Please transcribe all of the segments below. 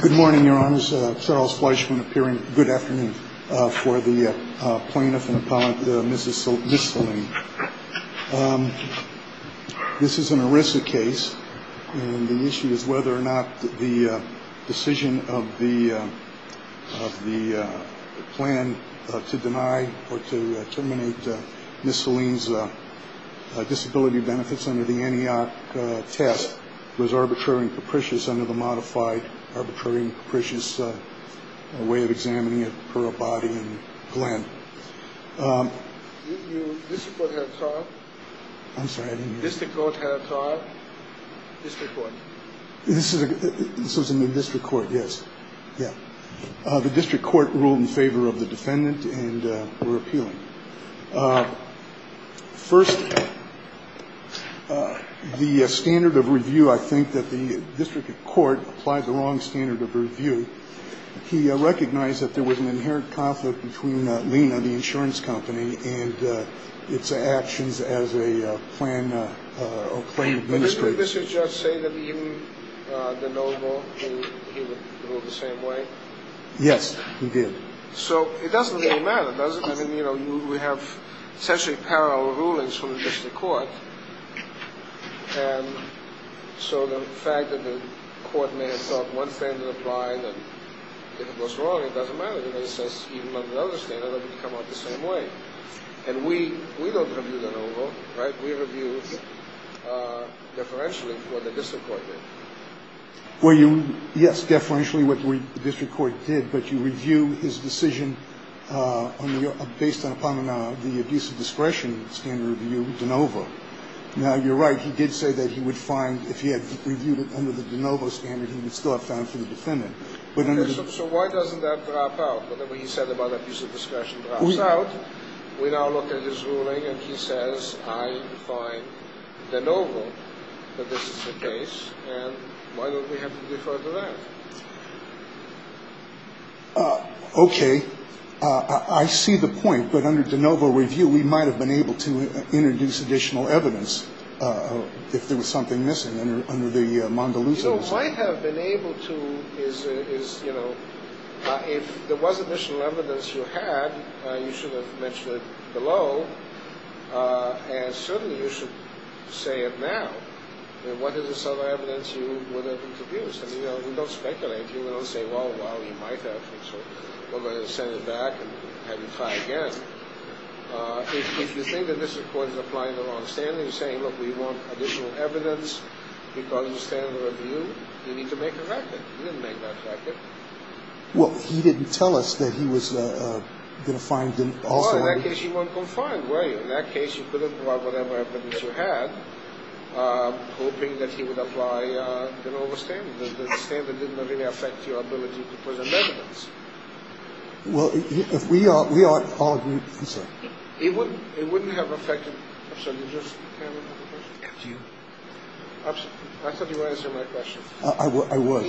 Good morning, Your Honors. Charles Fleishman appearing. Good afternoon. For the plaintiff and appellant, Mrs. Miscellany. This is an ERISA case. And the issue is whether or not the decision of the of the plan to deny or to terminate Miscellany's disability benefits under the Antioch test was arbitrary and capricious under the modified arbitrary and capricious way of examining it per Abadie and Glenn. This court had a trial. I'm sorry. This court had a trial. This was in the district court. Yes. Yeah. The district court ruled in favor of the defendant and were appealing. First, the standard of review, I think that the district court applied the wrong standard of review. He recognized that there was an inherent conflict between Lena, the insurance company, and its actions as a plan. Did Mr. Judge say that even the noble, he would rule the same way? Yes, he did. So it doesn't really matter, does it? I mean, you know, we have essentially parallel rulings from the district court. And so the fact that the court may have thought one standard applied and it was wrong, it doesn't matter. The other standard would come up the same way. And we we don't review that over. We review differentially for the district court. Were you? Yes. Differentially, what the district court did. But you review his decision based upon the abuse of discretion standard review de novo. Now, you're right. He did say that he would find if he had reviewed it under the de novo standard, he would still have found for the defendant. So why doesn't that drop out? Whatever he said about abuse of discretion drops out. We now look at his ruling and he says, I find de novo that this is the case. And why don't we have to defer to that? OK, I see the point. But under de novo review, we might have been able to introduce additional evidence if there was something missing. I have been able to is, you know, if there was additional evidence you had, you should have mentioned it below. And certainly you should say it now. What is this other evidence you would have introduced? And, you know, we don't speculate. You don't say, well, well, you might have. We're going to send it back and have you try again. If you think that this court is applying the wrong standard, you're saying, look, we want additional evidence because of the standard review. You need to make a record. You didn't make that record. Well, he didn't tell us that he was going to find them all. In that case, you weren't confined, were you? In that case, you couldn't provide whatever evidence you had, hoping that he would apply de novo standard. The standard didn't really affect your ability to present evidence. Well, if we all agree, I'm sorry. It wouldn't have affected. I'm sorry, did you just have another question? After you. I thought you were answering my question. I was.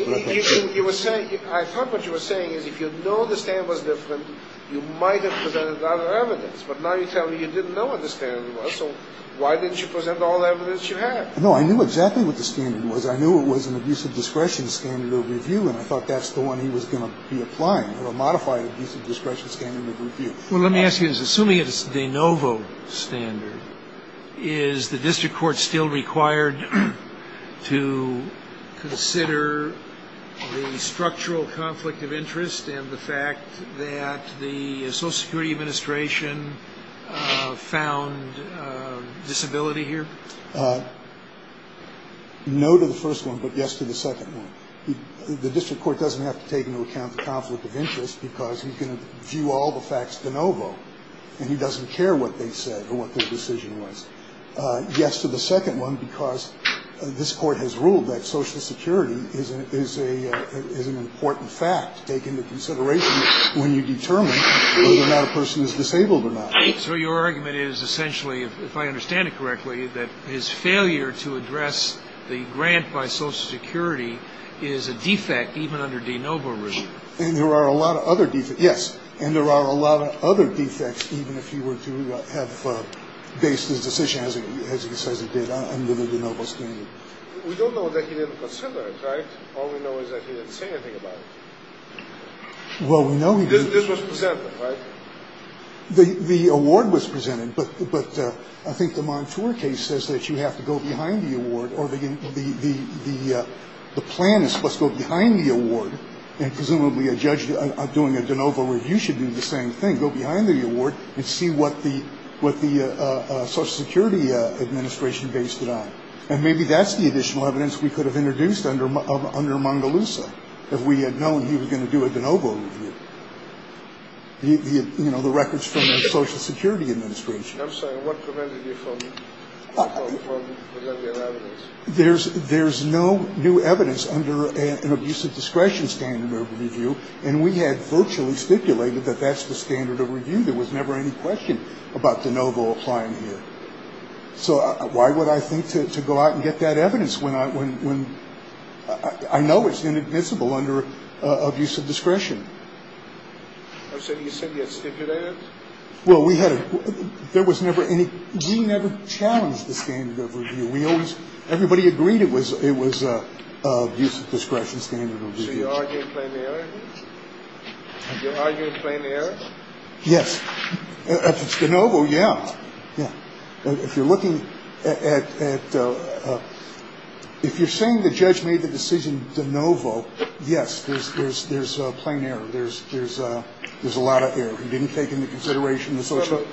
You were saying, I thought what you were saying is if you know the standard was different, you might have presented other evidence. But now you're telling me you didn't know what the standard was. So why didn't you present all the evidence you had? No, I knew exactly what the standard was. I knew it was an abuse of discretion standard of review. And I thought that's the one he was going to be applying, a modified abuse of discretion standard of review. Well, let me ask you, assuming it's de novo standard, is the district court still required to consider the structural conflict of interest and the fact that the Social Security Administration found disability here? No to the first one, but yes to the second one. The district court doesn't have to take into account the conflict of interest because he can view all the facts de novo and he doesn't care what they said or what their decision was. Yes to the second one because this court has ruled that Social Security is an important fact to take into consideration when you determine whether or not a person is disabled or not. So your argument is essentially, if I understand it correctly, that his failure to address the grant by Social Security is a defect even under de novo review. And there are a lot of other defects, yes. And there are a lot of other defects even if he were to have based his decision as he says he did under the de novo standard. We don't know that he didn't consider it, right? All we know is that he didn't say anything about it. Well, we know he didn't. This was presented, right? The award was presented, but I think the Montour case says that you have to go behind the award or the plan is supposed to go behind the award and presumably a judge doing a de novo review should do the same thing, go behind the award and see what the Social Security administration based it on. And maybe that's the additional evidence we could have introduced under Mangalusa if we had known he was going to do a de novo review. You know, the records from the Social Security administration. I'm sorry, what prevented you from delivering evidence? There's no new evidence under an abuse of discretion standard of review, and we had virtually stipulated that that's the standard of review. There was never any question about de novo applying here. So why would I think to go out and get that evidence when I know it's inadmissible under abuse of discretion? I'm sorry, you said you had stipulated it? Well, we had it. There was never any. We never challenged the standard of review. We always, everybody agreed it was abuse of discretion standard of review. So you're arguing plain error here? You're arguing plain error? Yes. If it's de novo, yeah. Yeah. If you're looking at, if you're saying the judge made the decision de novo, yes, there's plain error, there's a lot of error. He didn't take into consideration the social.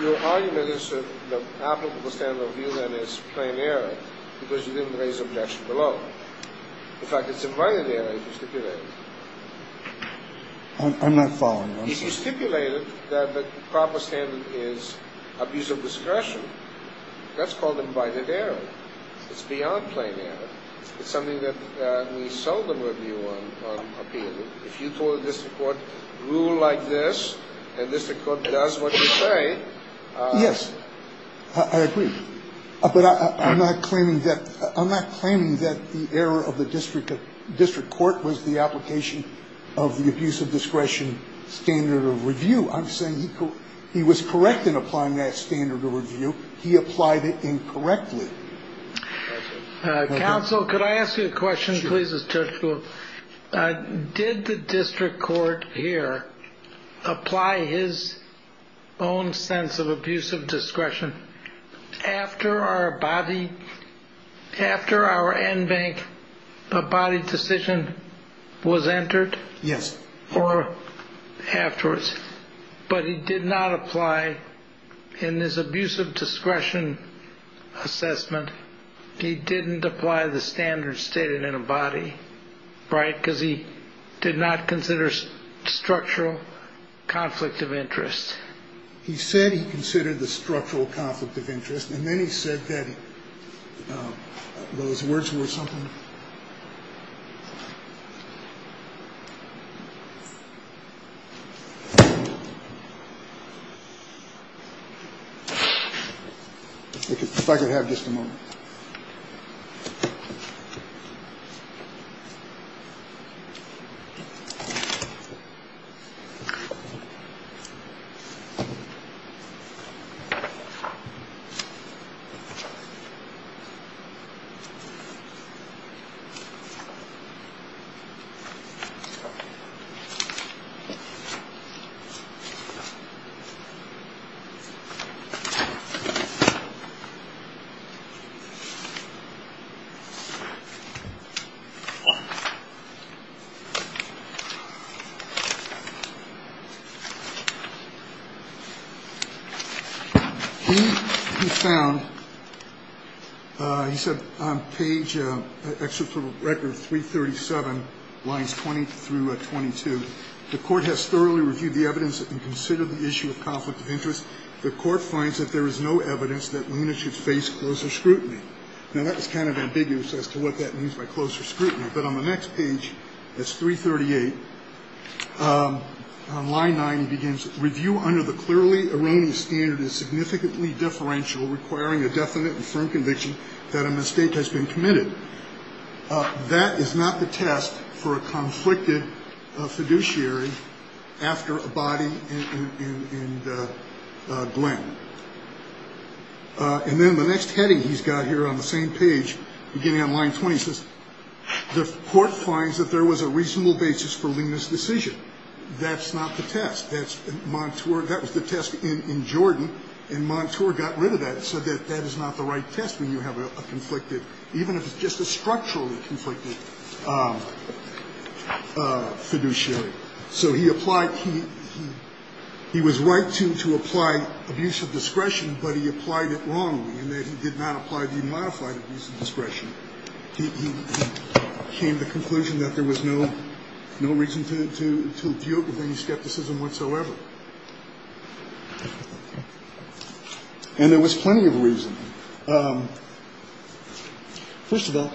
Your argument is that the applicable standard of review, then, is plain error because you didn't raise objection below. In fact, it's invited error if you stipulated it. I'm not following. If you stipulated that the proper standard is abuse of discretion, that's called invited error. It's beyond plain error. It's something that we seldom review on appeal. If you told the district court, rule like this, and district court does what you say. Yes, I agree. But I'm not claiming that the error of the district court was the application of the abuse of discretion standard of review. I'm saying he was correct in applying that standard of review. He applied it incorrectly. Counsel, could I ask you a question, please? Did the district court here apply his own sense of abuse of discretion after our body, after our NBANC body decision was entered? Yes. Or afterwards. But he did not apply in this abuse of discretion assessment. He didn't apply the standard stated in a body, right, because he did not consider structural conflict of interest. He said he considered the structural conflict of interest, and then he said that those words were something. If I could have just a moment. Thank you. He found, he said on page 337, lines 20 through 22, the court has thoroughly reviewed the evidence and considered the issue of conflict of interest. The court finds that there is no evidence that Luna should face closer scrutiny. Now, that was kind of ambiguous as to what that means by closer scrutiny. But on the next page, that's 338, on line nine, he begins, review under the clearly erroneous standard is significantly differential, requiring a definite and firm conviction that a mistake has been committed. That is not the test for a conflicted fiduciary after a body in Glenn. And then the next heading he's got here on the same page, beginning on line 20, says the court finds that there was a reasonable basis for Luna's decision. That's not the test. That's Montour. That was the test in Jordan, and Montour got rid of that and said that that is not the right test when you have a conflicted, even if it's just a structurally conflicted fiduciary. So he applied, he was right to apply abuse of discretion, but he applied it wrongly in that he did not apply the modified abuse of discretion. He came to the conclusion that there was no reason to deal with any skepticism whatsoever. And there was plenty of reason. First of all,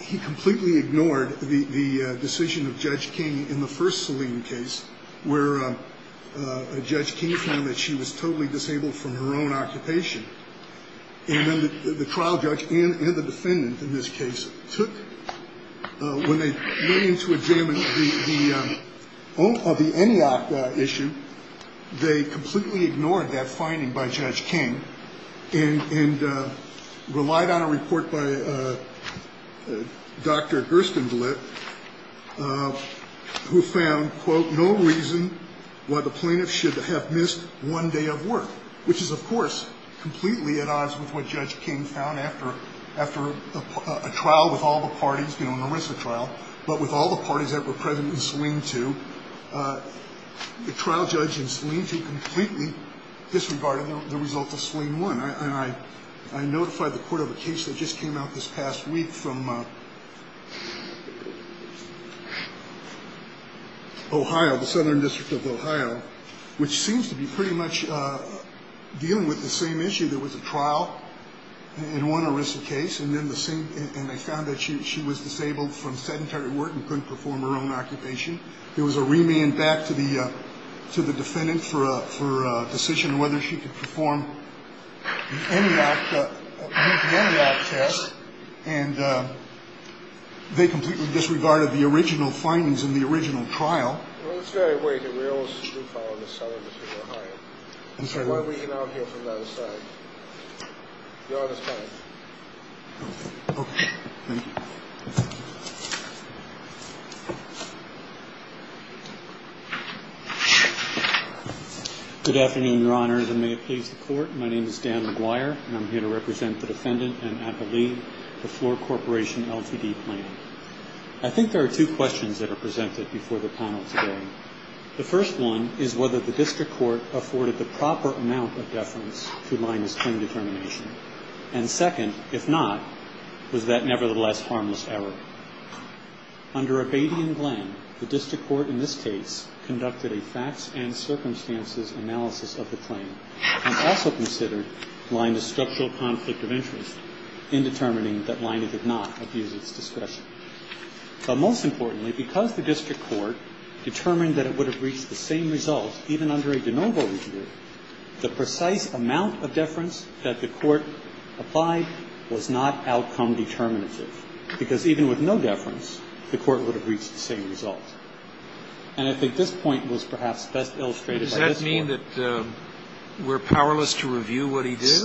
he completely ignored the decision of Judge King in the first saline case where Judge King found that she was totally disabled from her own occupation. And then the trial judge and the defendant in this case took when they went in to examine the issue. They completely ignored that finding by Judge King and relied on a report by Dr. Gerstenblit, who found, quote, no reason why the plaintiff should have missed one day of work, which is, of course, completely at odds with what Judge King found after a trial with all the parties, you know, The trial judge in Saline 2 completely disregarded the results of Saline 1. And I notified the court of a case that just came out this past week from Ohio, the Southern District of Ohio, which seems to be pretty much dealing with the same issue. There was a trial in one arrested case, and then the same, and they found that she was disabled from sedentary work and couldn't perform her own occupation. There was a remand back to the defendant for a decision whether she could perform the ENIAC test, and they completely disregarded the original findings in the original trial. Good afternoon, Your Honors, and may it please the court. My name is Dan McGuire, and I'm here to represent the defendant and appellee to Floor Corporation LTD Plaintiff. I think there are two questions that are presented before the panel today. The first one is whether the district court afforded the proper amount of deference to Lina's claim determination. And second, if not, was that nevertheless harmless error. Under Abadi and Glenn, the district court in this case conducted a facts and circumstances analysis of the claim and also considered Lina's structural conflict of interest in determining that Lina did not abuse its discretion. But most importantly, because the district court determined that it would have reached the same result even under a de novo review, the precise amount of deference that the court applied was not outcome determinative, because even with no deference, the court would have reached the same result. And I think this point was perhaps best illustrated by this Court. Does that mean that we're powerless to review what he did?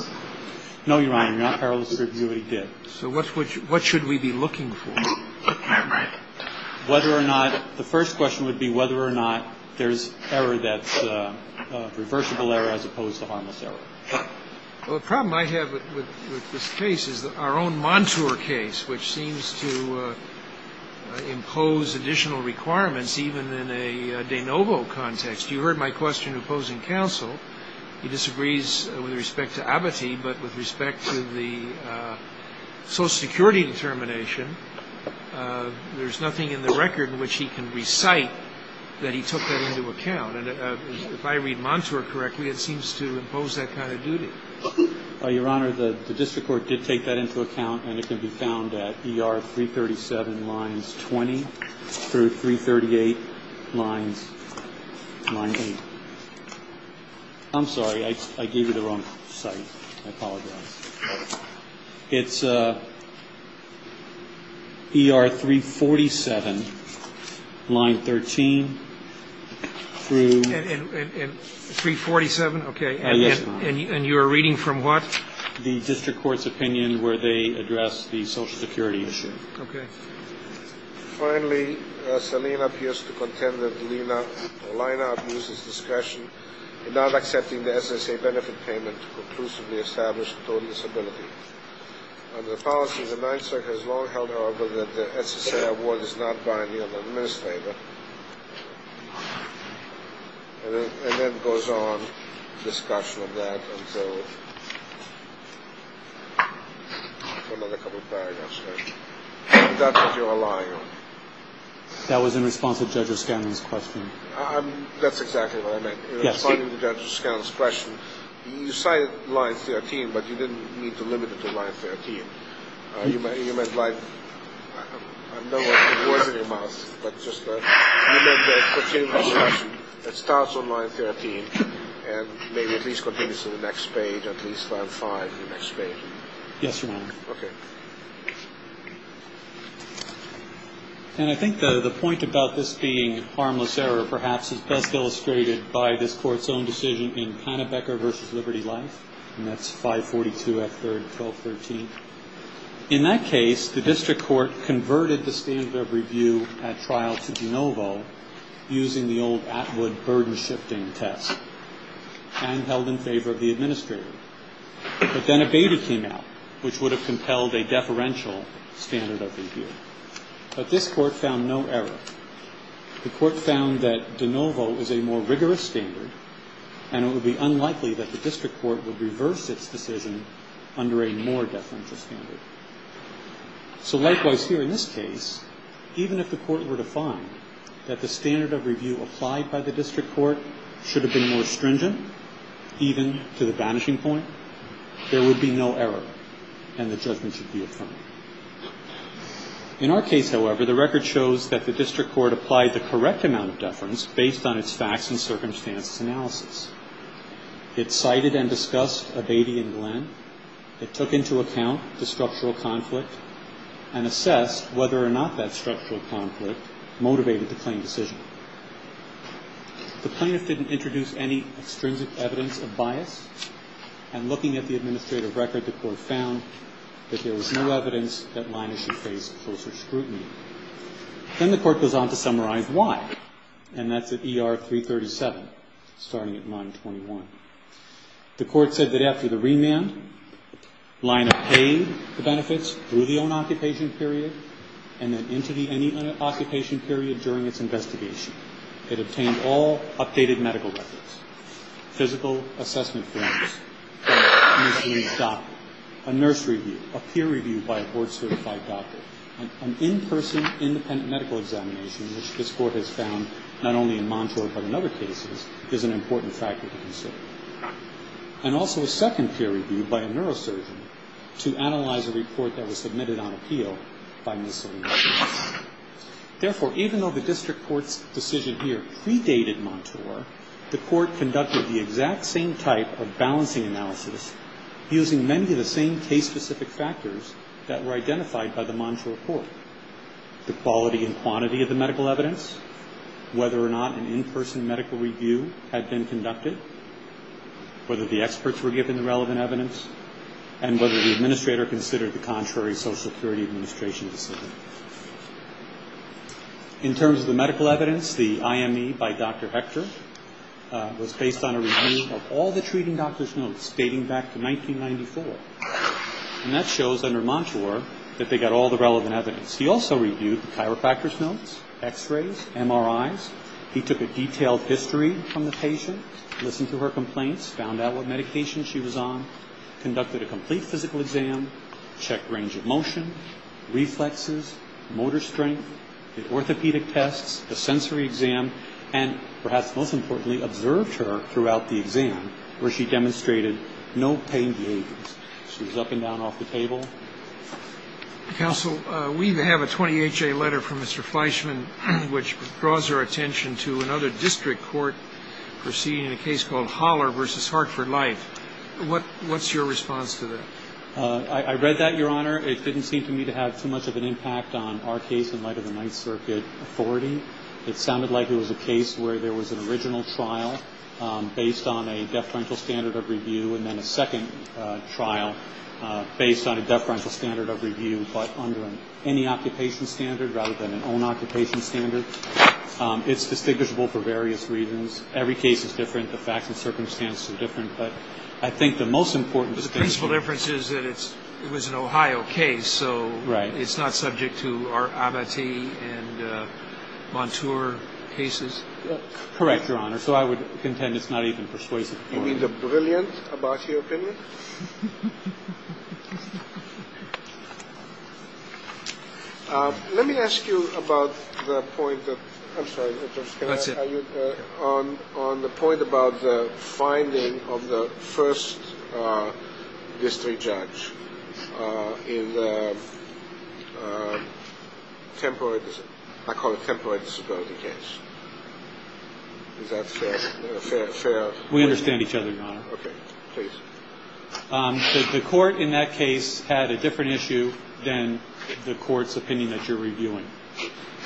No, Your Honor, you're not powerless to review what he did. So what should we be looking for? Whether or not the first question would be whether or not there's error that's reversible error as opposed to harmless error. Well, the problem I have with this case is our own Montour case, which seems to impose additional requirements even in a de novo context. You heard my question opposing counsel. He disagrees with respect to Abbatee, but with respect to the social security determination, there's nothing in the record in which he can recite that he took that into account. And if I read Montour correctly, it seems to impose that kind of duty. Your Honor, the district court did take that into account, and it can be found at ER 337 lines 20 through 338 lines 9A. I'm sorry. I gave you the wrong site. I apologize. It's ER 347 line 13 through 347. Okay. And you're reading from what? The district court's opinion where they address the social security issue. Okay. Finally, Selina appears to contend that Lina abuses discretion in not accepting the SSA benefit payment to conclusively establish total disability. The policy of the 9th Circuit has long held, however, that the SSA award is not binding on the administrator. And then it goes on, discussion of that until another couple of paragraphs later. But that's what you're relying on. That was in response to Judge O'Scanlon's question. That's exactly what I meant. Responding to Judge O'Scannon's question, you cited line 13, but you didn't need to limit it to line 13. You meant like, I know it wasn't in your mouth, but just remember to continue the discussion. It starts on line 13 and maybe at least continues to the next page, at least line 5, the next page. Yes, Your Honor. Okay. And I think the point about this being harmless error perhaps is best illustrated by this court's own decision in Pannebecker v. Liberty Life, and that's 542 F. 3rd, 1213. In that case, the district court converted the standard of review at trial to de novo using the old Atwood burden-shifting test and held in favor of the administrator. But then a beta came out, which would have compelled a deferential standard of review. But this court found no error. The court found that de novo is a more rigorous standard, and it would be unlikely that the district court would reverse its decision under a more deferential standard. So likewise here in this case, even if the court were to find that the standard of review applied by the district court should have been more stringent, even to the vanishing point, there would be no error, and the judgment should be affirmed. In our case, however, the record shows that the district court applied the correct amount of deference based on its facts and circumstances analysis. It cited and discussed Abadie and Glenn. It took into account the structural conflict and assessed whether or not that structural conflict motivated the claim decision. The plaintiff didn't introduce any extrinsic evidence of bias, and looking at the administrative record, the court found that there was no evidence that Lina should face closer scrutiny. Then the court goes on to summarize why, and that's at ER 337, starting at line 21. The court said that after the remand, Lina paid the benefits through the own-occupation period and then into the any-occupation period during its investigation. It obtained all updated medical records, physical assessment forms, a nurse review, a peer review by a board-certified doctor. An in-person, independent medical examination, which this court has found not only in Montauk but in other cases, is an important factor to consider. And also a second peer review by a neurosurgeon to analyze a report that was submitted on appeal by Ms. Salinas. Therefore, even though the district court's decision here predated Montour, the court conducted the exact same type of balancing analysis using many of the same case-specific factors that were identified by the Montour court. The quality and quantity of the medical evidence, whether or not an in-person medical review had been conducted, whether the experts were given the relevant evidence, and whether the administrator considered the contrary Social Security Administration decision. In terms of the medical evidence, the IME by Dr. Hector was based on a review of all the treating doctor's notes dating back to 1994. And that shows under Montour that they got all the relevant evidence. He also reviewed the chiropractor's notes, x-rays, MRIs. He took a detailed history from the patient, listened to her complaints, found out what medication she was on, conducted a complete physical exam, checked range of motion, reflexes, motor strength, did orthopedic tests, a sensory exam, and perhaps most importantly, observed her throughout the exam where she demonstrated no pain behaviors. She was up and down off the table. Counsel, we have a 20HA letter from Mr. Fleischman which draws our attention to another district court proceeding a case called Holler v. Hartford Light. What's your response to that? I read that, Your Honor. It didn't seem to me to have too much of an impact on our case in light of the Ninth Circuit authority. It sounded like it was a case where there was an original trial based on a deferential standard of review and then a second trial based on a deferential standard of review, but under any occupation standard rather than an own occupation standard. It's distinguishable for various reasons. Every case is different. The facts and circumstances are different. But I think the most important distinction is that it was an Ohio case, so it's not subject to our Abate and Montour cases. Correct, Your Honor. So I would contend it's not even persuasive. You mean the brilliant Abate opinion? Let me ask you about the point of the finding of the first district judge in the temporary disability case. Is that fair? We understand each other, Your Honor. Okay, please. The court in that case had a different issue than the court's opinion that you're reviewing.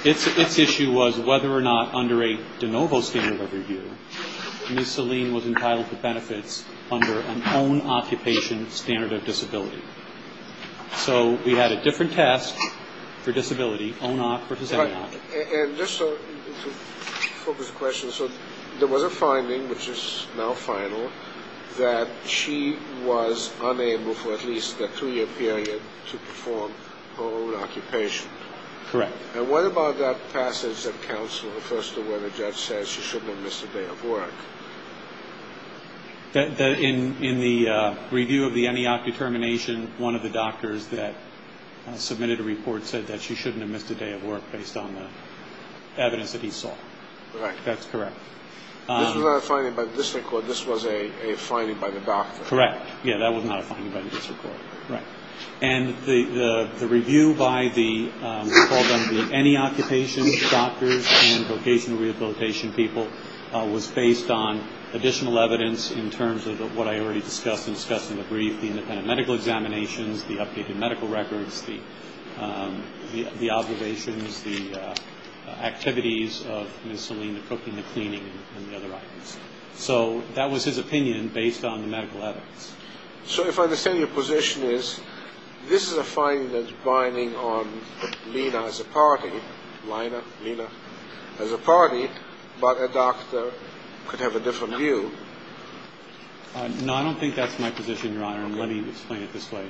Its issue was whether or not under a de novo standard of review, Ms. Selene was entitled to benefits under an own occupation standard of disability. So we had a different test for disability, ONOC versus ENOC. And just to focus the question, so there was a finding, which is now final, that she was unable for at least a two-year period to perform her own occupation. Correct. And what about that passage that counsel refers to where the judge says she shouldn't have missed a day of work? In the review of the ENEOC determination, one of the doctors that submitted a report said that she shouldn't have missed a day of work based on the evidence that he saw. Right. That's correct. This was not a finding by the district court. This was a finding by the doctor. Correct. Yeah, that was not a finding by the district court. Right. And the review by the ENEOC patient doctors and vocational rehabilitation people was based on additional evidence in terms of what I already discussed and discussed in the brief, the independent medical examinations, the updated medical records, the observations, the activities of Ms. Selene, the cooking, the cleaning, and the other items. So that was his opinion based on the medical evidence. So if I understand your position is this is a finding that's binding on Lena as a party, but a doctor could have a different view. No, I don't think that's my position, Your Honor, and let me explain it this way.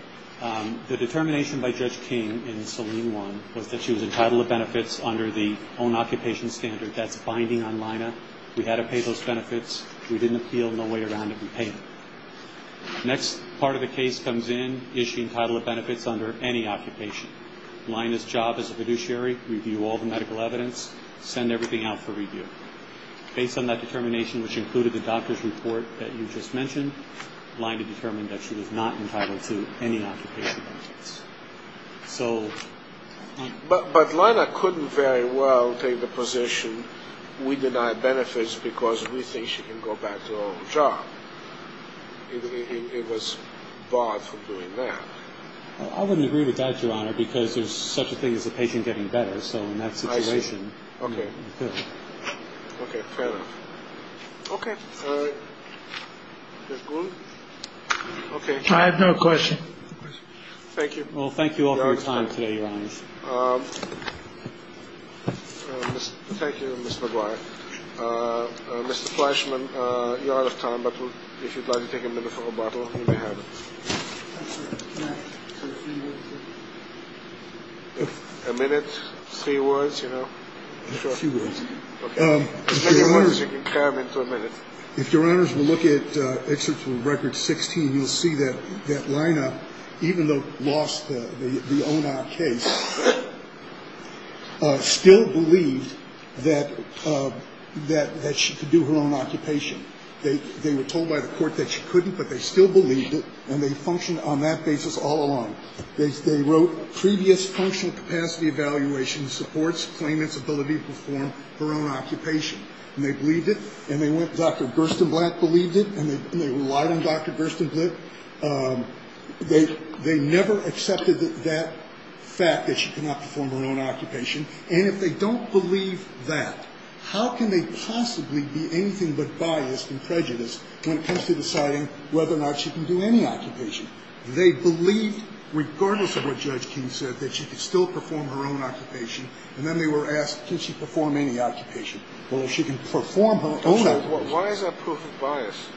The determination by Judge King in Selene 1 was that she was entitled to benefits under the own occupation standard. That's binding on Lena. We had to pay those benefits. We didn't feel no way around it. We paid it. Next part of the case comes in, is she entitled to benefits under any occupation? Lina's job as a fiduciary, review all the medical evidence, send everything out for review. Based on that determination, which included the doctor's report that you just mentioned, Lina determined that she was not entitled to any occupation benefits. But Lina couldn't very well take the position we denied benefits because we think she can go back to her own job. It was barred from doing that. I wouldn't agree with that, Your Honor, because there's such a thing as the patient getting better. So in that situation. OK. OK. Fair enough. OK. OK. I have no question. Thank you. Well, thank you all for your time today, Your Honor. Thank you, Mr. McGuire. Mr. Fleischman, you're out of time, but if you'd like to take a minute for rebuttal, you may have it. A minute, three words, you know. A few words. OK. As many words as you can come into a minute. If Your Honors will look at Excerpt from Record 16, you'll see that Lina, even though lost the ONAR case, still believed that she could do her own occupation. They were told by the court that she couldn't, but they still believed it, and they functioned on that basis all along. They wrote, previous functional capacity evaluation supports claimant's ability to perform her own occupation. And they believed it, and they went, Dr. Gerstenblatt believed it, and they relied on Dr. Gerstenblatt. They never accepted that fact that she could not perform her own occupation. And if they don't believe that, how can they possibly be anything but biased and prejudiced when it comes to deciding whether or not she can do any occupation? They believed, regardless of what Judge King said, that she could still perform her own occupation, and then they were asked, can she perform any occupation? Well, if she can perform her own occupation. Why is that proof of bias?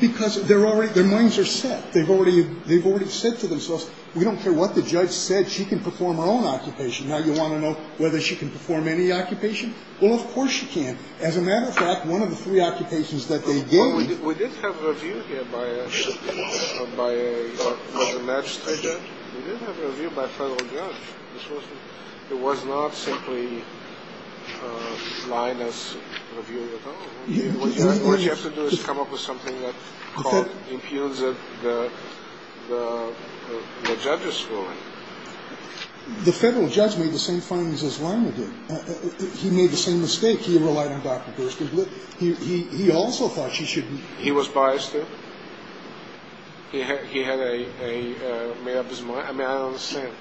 Because their minds are set. They've already said to themselves, we don't care what the judge said, she can perform her own occupation. Now you want to know whether she can perform any occupation? Well, of course she can. As a matter of fact, one of the three occupations that they gave Well, we did have a review here by a magistrate judge. We did have a review by a federal judge. It was not simply Linus reviewing at all. What you have to do is come up with something that impugns the judge's ruling. The federal judge made the same findings as Linus did. He made the same mistake. He relied on Dr. Boorstin. He also thought she should He was biased too? He had a made up his mind? I mean, I don't understand.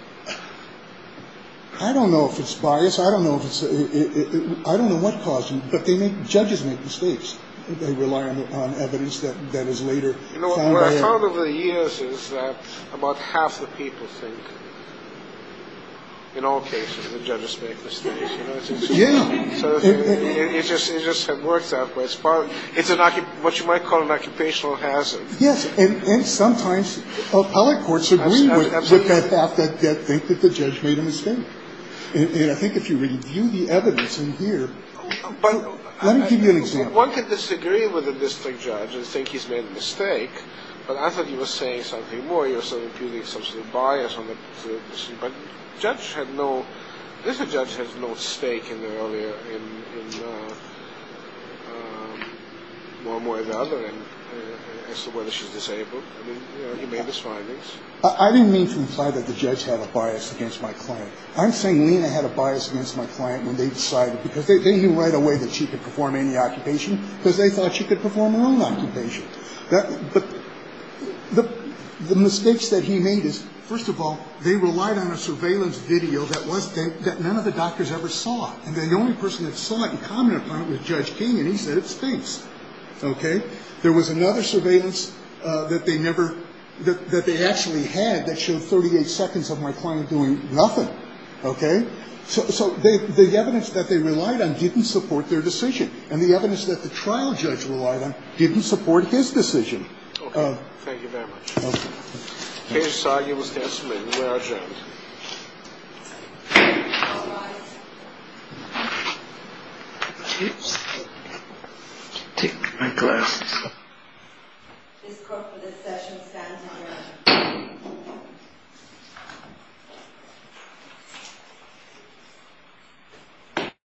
I don't know if it's bias. I don't know if it's I don't know what caused it, but judges make mistakes. They rely on evidence that is later found out What I've found over the years is that about half the people think in all cases that judges make mistakes. It just works that way. It's what you might call an occupational hazard. Yes, and sometimes appellate courts agree with the fact that they think the judge made a mistake. And I think if you review the evidence in here Let me give you an example. One could disagree with a district judge and think he's made a mistake. But I thought he was saying something more. He was impugning some sort of bias. But the judge had no This judge had no stake in the earlier in one way or another as to whether she's disabled. He made his findings. I didn't mean to imply that the judge had a bias against my client. I'm saying Lina had a bias against my client when they decided because they knew right away that she could perform any occupation because they thought she could perform her own occupation. But the mistakes that he made is, first of all, they relied on a surveillance video that none of the doctors ever saw. And the only person that saw it and commented upon it was Judge King. And he said, it stinks. There was another surveillance that they never that they actually had that showed 38 seconds of my client doing nothing. Okay. So the evidence that they relied on didn't support their decision. And the evidence that the trial judge relied on didn't support his decision. Thank you very much. Case argued was decimated. We are adjourned. All rise. Take my glasses off. Ms. Crawford, this session stands adjourned.